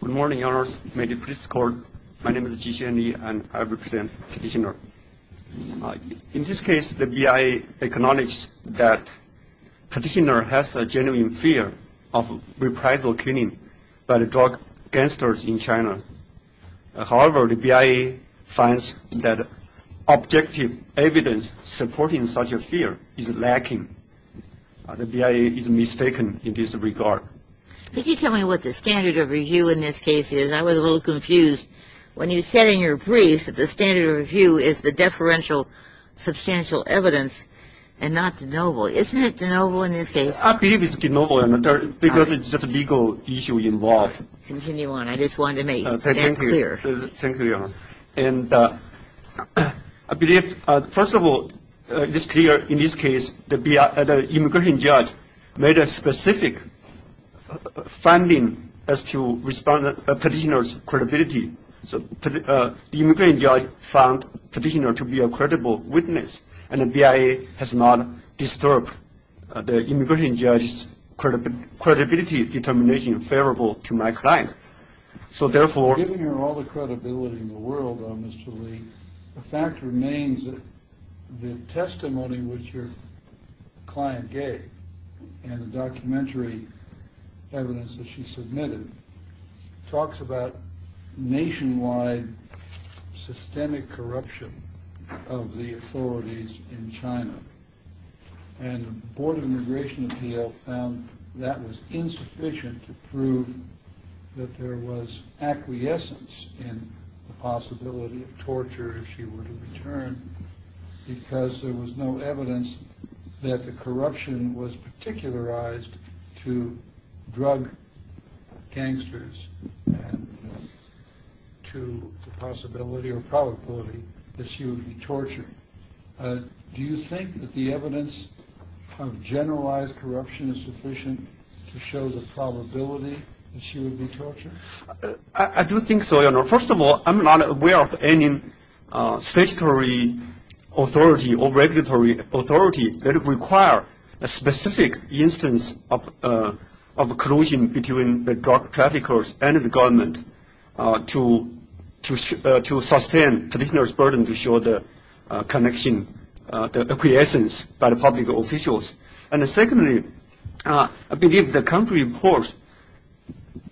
Good morning, your honors. May the police escort. My name is Ji Xianli and I represent Petitioner. In this case, the BIA acknowledged that Petitioner has a genuine fear of reprisal killing by drug gangsters in China. However, the BIA finds that objective evidence supporting such a fear is lacking. The BIA is mistaken in this regard. Could you tell me what the standard of review in this case is? I was a little confused when you said in your brief that the standard of review is the deferential substantial evidence and not de novo. Isn't it de novo in this case? I believe it's de novo because it's just a legal issue involved. Continue on. I just wanted to make that clear. Thank you, your honor. First of all, it is clear in this case that the immigration judge made a specific finding as to Petitioner's credibility. The immigration judge found Petitioner to be a credible witness, and the BIA has not disturbed the immigration judge's credibility determination favorable to my client. So, therefore... Giving her all the credibility in the world, Mr. Lee, the fact remains that the testimony which your client gave and the documentary evidence that she submitted talks about nationwide systemic corruption of the authorities in China. And the Board of Immigration Appeals found that was insufficient to prove that there was acquiescence in the possibility of torture if she were to return because there was no evidence that the corruption was particularized to drug gangsters and to the possibility or probability that she would be tortured. Do you think that the evidence of generalized corruption is sufficient to show the probability that she would be tortured? I do think so, your honor. First of all, I'm not aware of any statutory authority or regulatory authority that require a specific instance of collusion between the drug traffickers and the government to sustain Petitioner's burden to show the connection, the acquiescence by the public officials. And secondly, I believe the country reports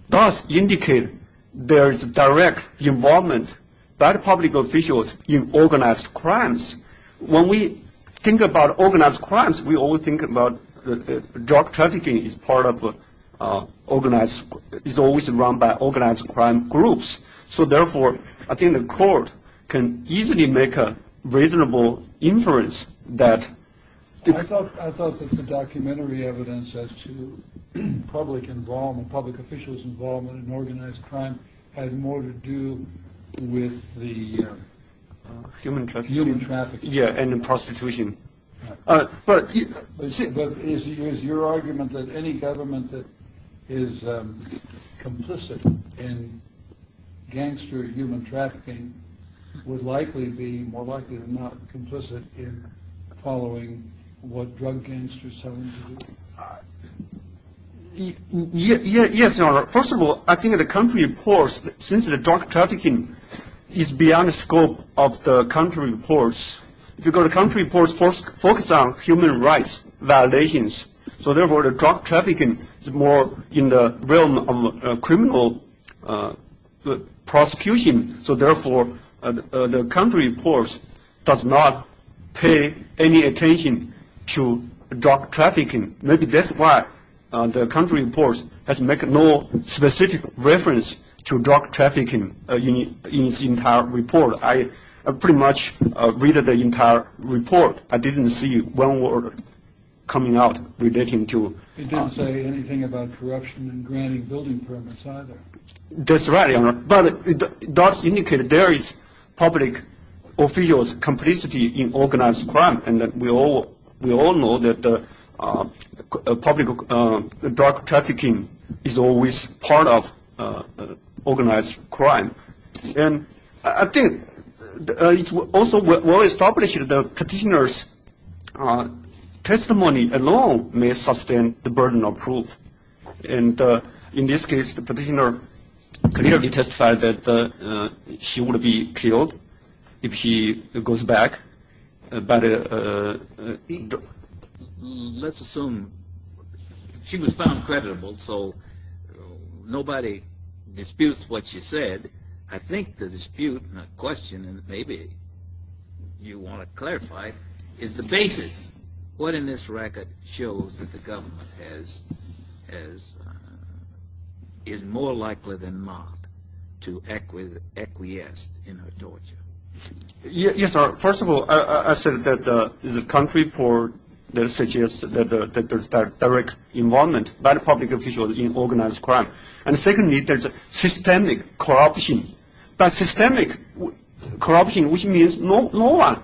thus indicate there is direct involvement by the public officials in organized crimes. When we think about organized crimes, we always think about drug trafficking is part of organized, is always run by organized crime groups. So therefore, I think the court can easily make a reasonable inference that... I thought that the documentary evidence as to public involvement, public officials' involvement in organized crime had more to do with the... Human trafficking. Human trafficking. Yeah, and the prostitution. But is your argument that any government that is complicit in gangster human trafficking would likely be more likely than not complicit in following what drug gangsters tell them to do? Yes, your honor. First of all, I think the country reports, since the drug trafficking is beyond the scope of the country reports, because the country reports focus on human rights violations. So therefore, the drug trafficking is more in the realm of criminal prosecution. So therefore, the country reports does not pay any attention to drug trafficking. Maybe that's why the country reports has made no specific reference to drug trafficking in its entire report. I pretty much read the entire report. I didn't see one word coming out relating to... It didn't say anything about corruption in granting building permits either. That's right, your honor. But it does indicate there is public officials' complicity in organized crime. And we all know that the public drug trafficking is always part of organized crime. And I think it's also well established the petitioner's testimony alone may sustain the burden of proof. And in this case, the petitioner clearly testified that she would be killed if she goes back. Let's assume she was found creditable, so nobody disputes what she said. I think the dispute and the question, and maybe you want to clarify, is the basis what in this record shows that the government is more likely than not to acquiesce in her torture. Yes, sir. First of all, I said that the country report suggests that there's direct involvement by the public officials in organized crime. And secondly, there's systemic corruption. But systemic corruption, which means no one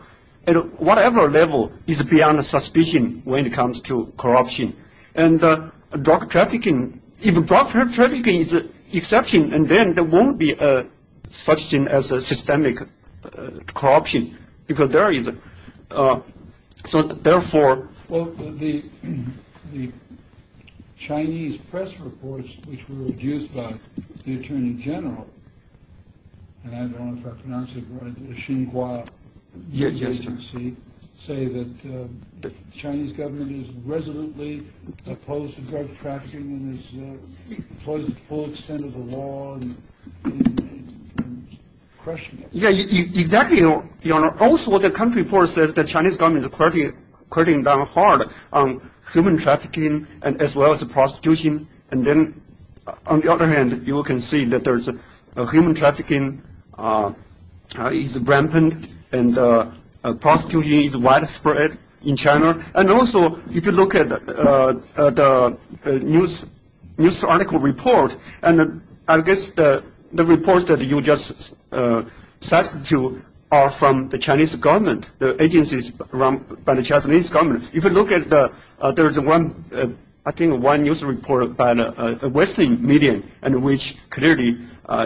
at whatever level is beyond suspicion when it comes to corruption. And drug trafficking, if drug trafficking is an exception, then there won't be such thing as systemic corruption. Well, the Chinese press reports, which were produced by the Attorney General, and I don't know if I pronounced it right, the Xingua New Agency, say that the Chinese government is resolutely opposed to drug trafficking and employs the full extent of the law in crushing it. Yeah, exactly, Your Honor. Also, the country report says the Chinese government is cutting down hard on human trafficking as well as prostitution. And then, on the other hand, you can see that human trafficking is rampant and prostitution is widespread in China. And also, if you look at the news article report, and I guess the reports that you just said to are from the Chinese government, the agencies run by the Chinese government. If you look at the – there's one – I think one news report by the Western media, clearly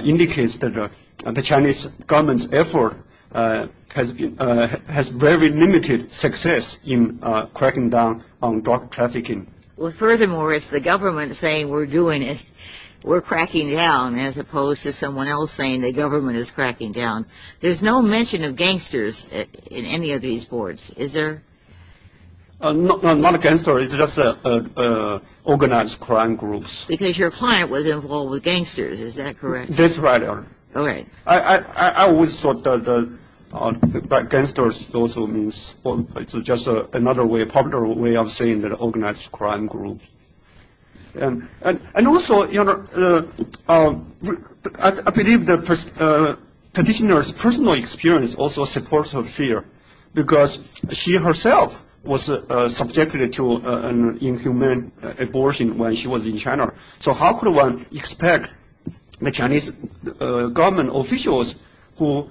indicates that the Chinese government's effort has very limited success in cracking down on drug trafficking. Well, furthermore, it's the government saying we're doing it, we're cracking down, as opposed to someone else saying the government is cracking down. There's no mention of gangsters in any of these reports. Is there? Not a gangster. It's just organized crime groups. Because your client was involved with gangsters. Is that correct? That's right, Your Honor. All right. I always thought that gangsters also means – it's just another way, popular way of saying that organized crime group. And also, Your Honor, I believe the petitioner's personal experience also supports her fear because she herself was subjected to an inhumane abortion when she was in China. So how could one expect the Chinese government officials who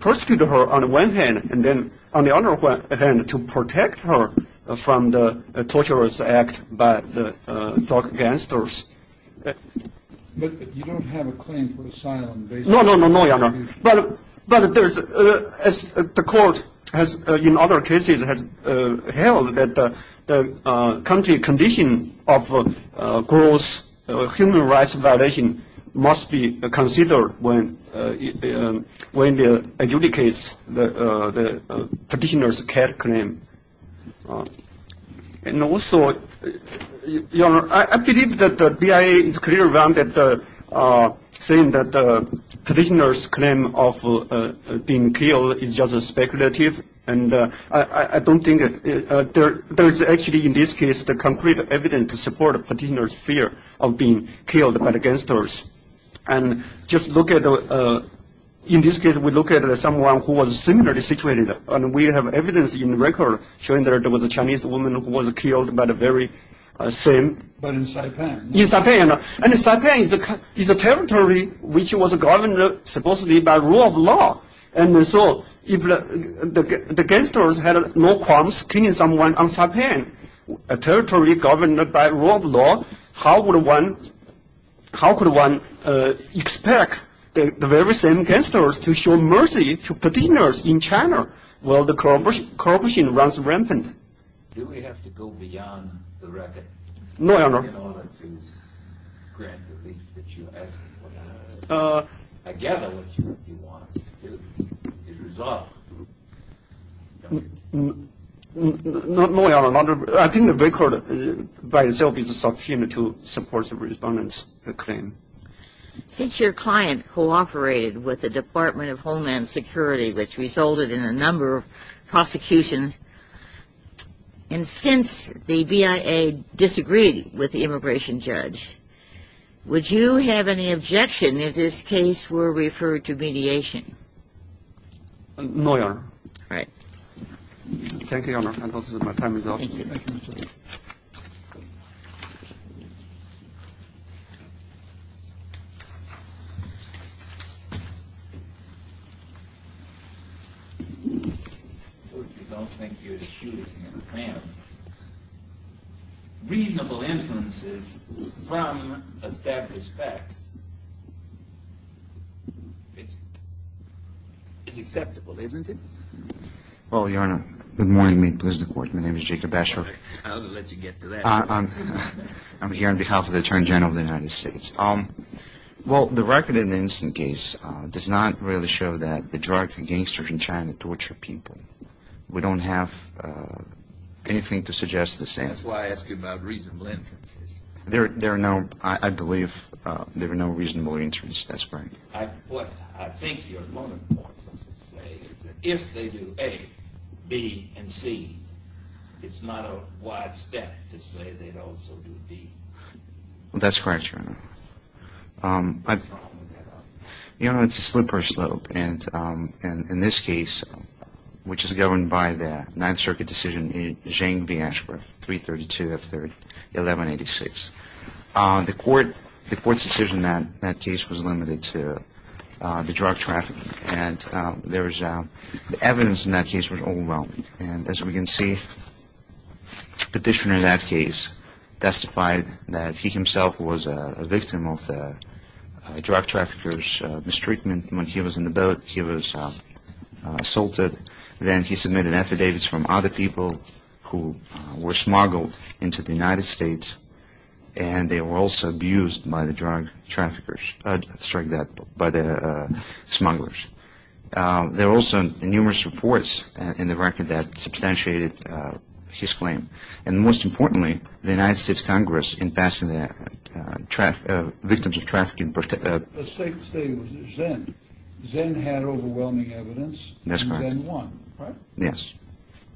persecuted her on the one hand and then on the other hand to protect her from the torturous act by the drug gangsters? But you don't have a claim for asylum based on that. No, no, no, Your Honor. But as the court has in other cases has held that the country condition of gross human rights violation must be considered when it adjudicates the petitioner's care claim. And also, Your Honor, I believe that the BIA is clear around saying that the petitioner's claim of being killed is just speculative. And I don't think – there is actually in this case the concrete evidence to support the petitioner's fear of being killed by the gangsters. And just look at – in this case, we look at someone who was similarly situated. And we have evidence in the record showing that there was a Chinese woman who was killed by the very same – But in Saipan. In Saipan. And Saipan is a territory which was governed supposedly by rule of law. And so if the gangsters had no qualms killing someone on Saipan, a territory governed by rule of law, how would one – how could one expect the very same gangsters to show mercy to petitioners in China while the corruption runs rampant? Do we have to go beyond the record in order to grant the relief that you ask for? I gather what you want is a result. No, Your Honor. I think the record by itself is a subpoena to support the respondent's claim. Since your client cooperated with the Department of Homeland Security, which resulted in a number of prosecutions, and since the BIA disagreed with the immigration judge, would you have any objection if this case were referred to mediation? No, Your Honor. All right. Thank you, Your Honor. And also, my time is up. Thank you. If you don't think you're shooting in the family, reasonable inferences from established facts is acceptable, isn't it? Well, Your Honor, good morning. May it please the Court. My name is Jacob Asher. I'll let you get to that. I'm here on behalf of the Attorney General of the United States. Well, the record in the instant case does not really show that the drug gangsters in China torture people. We don't have anything to suggest the same. That's why I asked you about reasonable inferences. There are no, I believe there are no reasonable inferences. That's correct. What I think your moment points us to say is that if they do A, B, and C, it's not a wide step to say they'd also do B. That's correct, Your Honor. Your Honor, it's a slippery slope. And in this case, which is governed by the Ninth Circuit decision, Zhang v. Ashcroft, 332 F. 3rd, 1186, the Court's decision in that case was limited to the drug trafficking. And the evidence in that case was overwhelming. And as we can see, the petitioner in that case testified that he himself was a victim of drug traffickers' mistreatment when he was in the boat. He was assaulted. Then he submitted affidavits from other people who were smuggled into the United States, and they were also abused by the drug traffickers, sorry, by the smugglers. There were also numerous reports in the record that substantiated his claim. And most importantly, the United States Congress in passing the victims of trafficking. Let's say it was Zen. Zen had overwhelming evidence. That's right. And Zen won, right? Yes.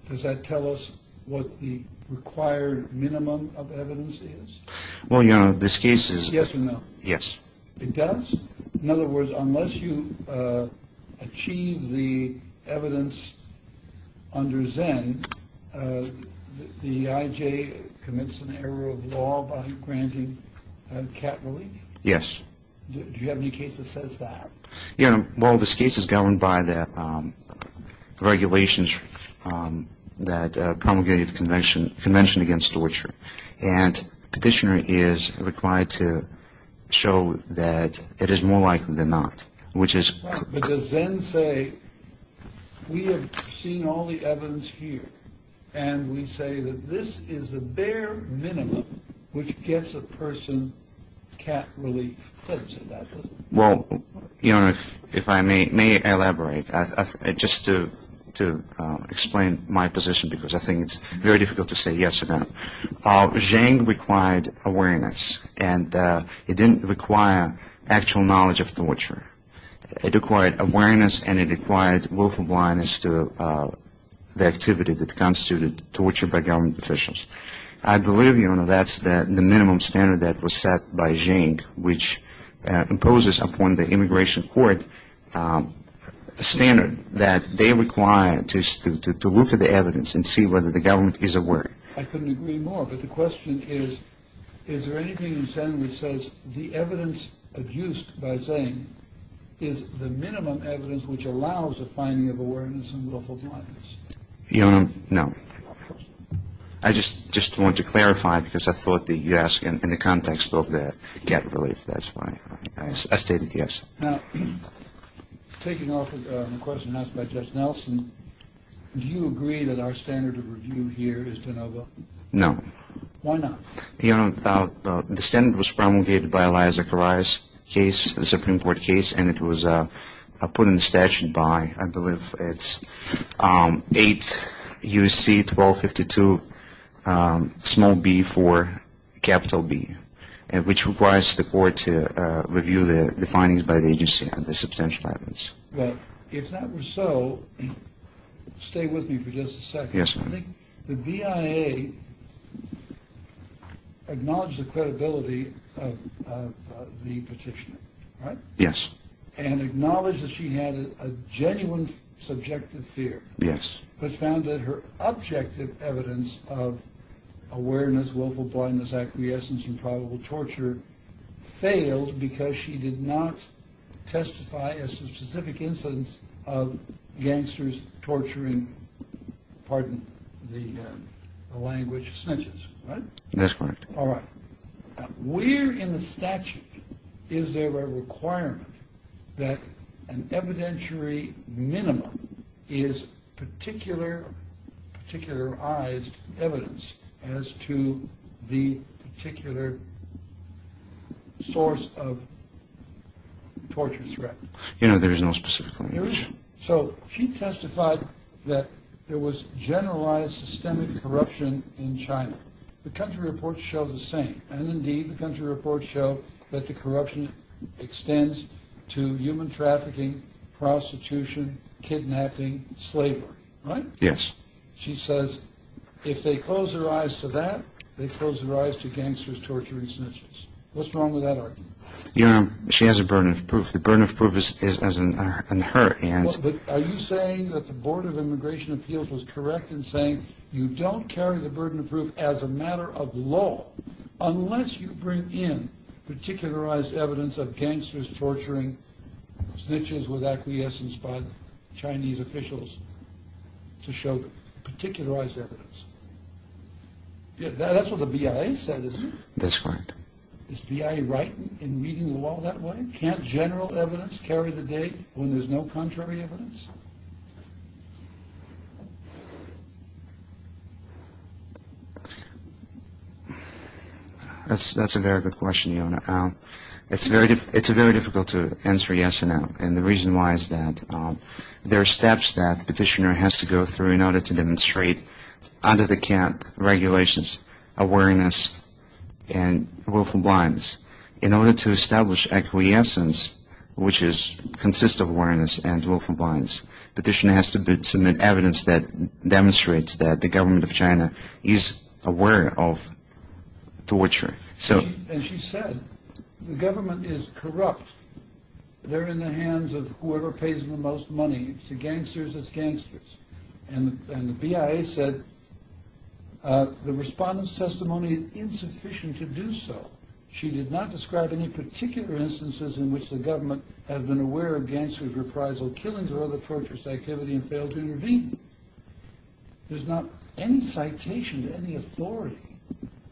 Does that tell us what the required minimum of evidence is? Well, Your Honor, this case is... Yes or no? Yes. It does? In other words, unless you achieve the evidence under Zen, the IJ commits an error of law by granting cap relief? Yes. Do you have any case that says that? Your Honor, well, this case is governed by the regulations that promulgated the Convention Against Torture. And petitioner is required to show that it is more likely than not, which is... But does Zen say, we have seen all the evidence here, and we say that this is the bare minimum which gets a person cap relief? Let's say that. Well, Your Honor, if I may elaborate, just to explain my position, because I think it's very difficult to say yes or no. Zen required awareness, and it didn't require actual knowledge of torture. It required awareness, and it required willful blindness to the activity that constituted torture by government officials. I believe, Your Honor, that's the minimum standard that was set by Zen, which imposes upon the immigration court a standard that they require to look at the evidence and see whether the government is aware. I couldn't agree more. But the question is, is there anything in Zen which says the evidence adduced by Zen is the minimum evidence which allows a finding of awareness and willful blindness? Your Honor, no. I just want to clarify, because I thought that you asked in the context of the cap relief. That's why I stated yes. Now, taking off the question asked by Judge Nelson, do you agree that our standard of review here is de novo? No. Why not? Your Honor, the standard was promulgated by Elias Zechariah's case, the Supreme Court case, and it was put in the statute by, I believe it's 8 U.C. 1252, small b for capital B, which requires the court to review the findings by the agency on the substantial evidence. Well, if that were so, stay with me for just a second. Yes, Your Honor. I think the BIA acknowledged the credibility of the petitioner, right? Yes. And acknowledged that she had a genuine subjective fear. Yes. But found that her objective evidence of awareness, willful blindness, acquiescence, and probable torture failed because she did not testify as to specific incidents of gangsters torturing, pardon the language, snitches, right? That's correct. All right. Where in the statute is there a requirement that an evidentiary minimum is particularized evidence as to the particular source of torture threat? Your Honor, there is no specific claim. There isn't. So she testified that there was generalized systemic corruption in China. The country reports show the same. And, indeed, the country reports show that the corruption extends to human trafficking, prostitution, kidnapping, slavery, right? Yes. She says if they close their eyes to that, they close their eyes to gangsters torturing snitches. What's wrong with that argument? Your Honor, she has a burden of proof. The burden of proof is in her hands. Are you saying that the Board of Immigration Appeals was correct in saying you don't carry the burden of proof as a matter of law unless you bring in particularized evidence of gangsters torturing snitches with acquiescence by Chinese officials to show particularized evidence? That's what the BIA said, isn't it? That's right. Is BIA right in reading the law that way? Can't general evidence carry the weight when there's no contrary evidence? That's a very good question, Your Honor. It's very difficult to answer yes or no. And the reason why is that there are steps that the petitioner has to go through in order to demonstrate regulations, awareness, and willful blindness. In order to establish acquiescence, which consists of awareness and willful blindness, the petitioner has to submit evidence that demonstrates that the government of China is aware of torture. And she said the government is corrupt. They're in the hands of whoever pays the most money. It's the gangsters. It's gangsters. And the BIA said the respondent's testimony is insufficient to do so. She did not describe any particular instances in which the government has been aware of gangsters' reprisal, killings, or other torturous activity and failed to intervene. There's not any citation to any authority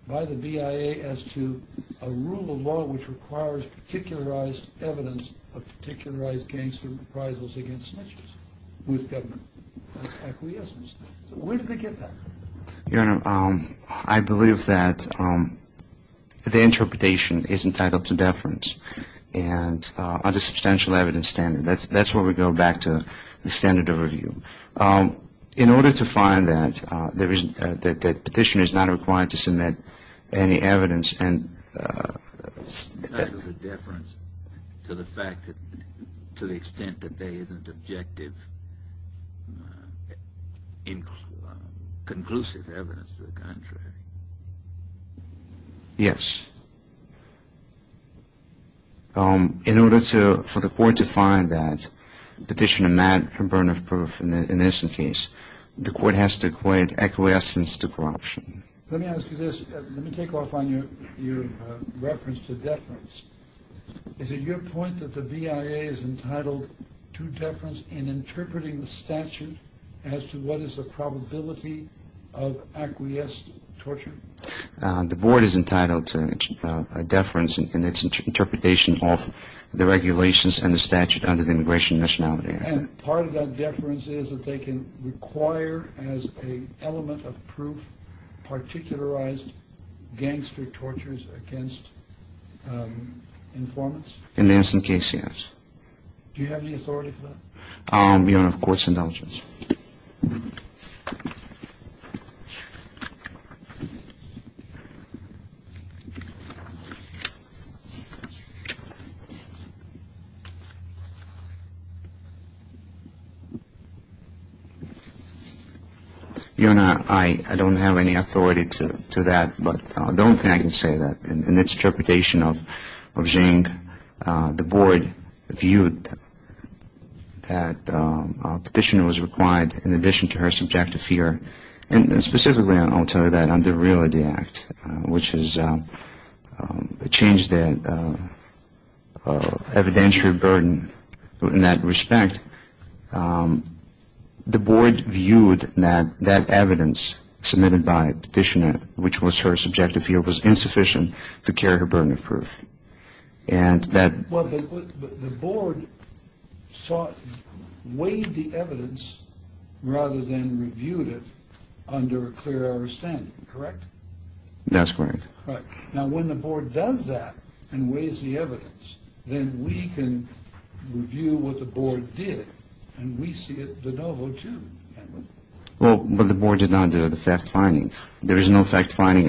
by the BIA as to a rule of law which requires particularized evidence of particularized gangster reprisals against snitches with government acquiescence. So where did they get that? Your Honor, I believe that the interpretation is entitled to deference and under substantial evidence standard. That's where we go back to the standard of review. In order to find that, the petitioner is not required to submit any evidence and It's entitled to deference to the fact that to the extent that there isn't objective, conclusive evidence to the contrary. Yes. In order for the court to find that petitioner mad and burn of proof in this case, the court has to equate acquiescence to corruption. Let me ask you this. Let me take off on your reference to deference. Is it your point that the BIA is entitled to deference in interpreting the statute as to what is the probability of acquiesced torture? The board is entitled to deference in its interpretation of the regulations and the statute under the Immigration and Nationality Act. And part of that deference is that they can require as a element of proof, particularized gangster tortures against informants. And that's the case. Do you have the authority? Your Honor, of course indulgence. Your Honor, I don't have any authority to that, but I don't think I can say that. In its interpretation of Zhang, the board viewed that petitioner was required, in addition to her subjective fear, and specifically I'll tell you that under the Realty Act, which has changed the evidentiary burden in that respect, the board viewed that that evidence submitted by petitioner, which was her subjective fear, was insufficient to carry her burden of proof. And that... Well, the board weighed the evidence rather than reviewed it under a clear understanding, correct? That's correct. Right. Now, when the board does that and weighs the evidence, then we can review what the board did, and we see it de novo too, can't we? Well, but the board did not do the fact-finding. There is no fact-finding.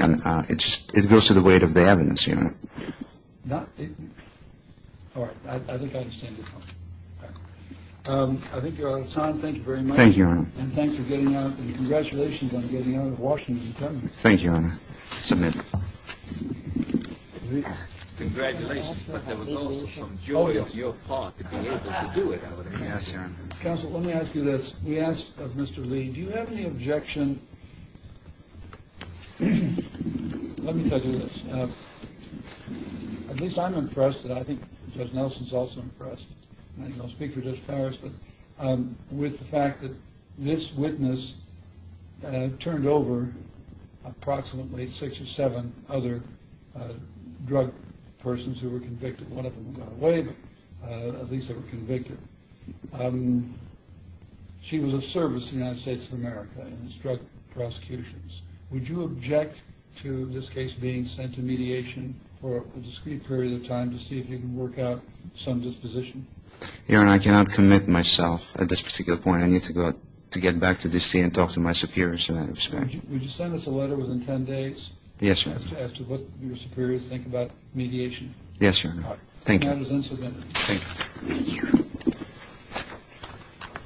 It just goes to the weight of the evidence, Your Honor. All right. I think I understand your point. All right. I think you're out of time. Thank you very much. Thank you, Your Honor. And thanks for getting out, and congratulations on getting out of Washington and coming. Thank you, Your Honor. It's a miracle. Congratulations. But there was also some joy on your part to be able to do it, I would imagine. Yes, Your Honor. Counsel, let me ask you this. We asked of Mr. Lee, do you have any objection... Let me tell you this. At least I'm impressed, and I think Judge Nelson's also impressed, and I'll speak for Judge Farris, but with the fact that this witness turned over approximately six or seven other drug persons who were convicted. One of them got away, but at least they were convicted. She was of service to the United States of America in its drug prosecutions. Would you object to this case being sent to mediation for a discrete period of time to see if you can work out some disposition? Your Honor, I cannot commit myself at this particular point. I need to get back to D.C. and talk to my superiors in that respect. Would you send us a letter within 10 days as to what your superiors think about mediation? Yes, Your Honor. All right. Thank you. Thank you.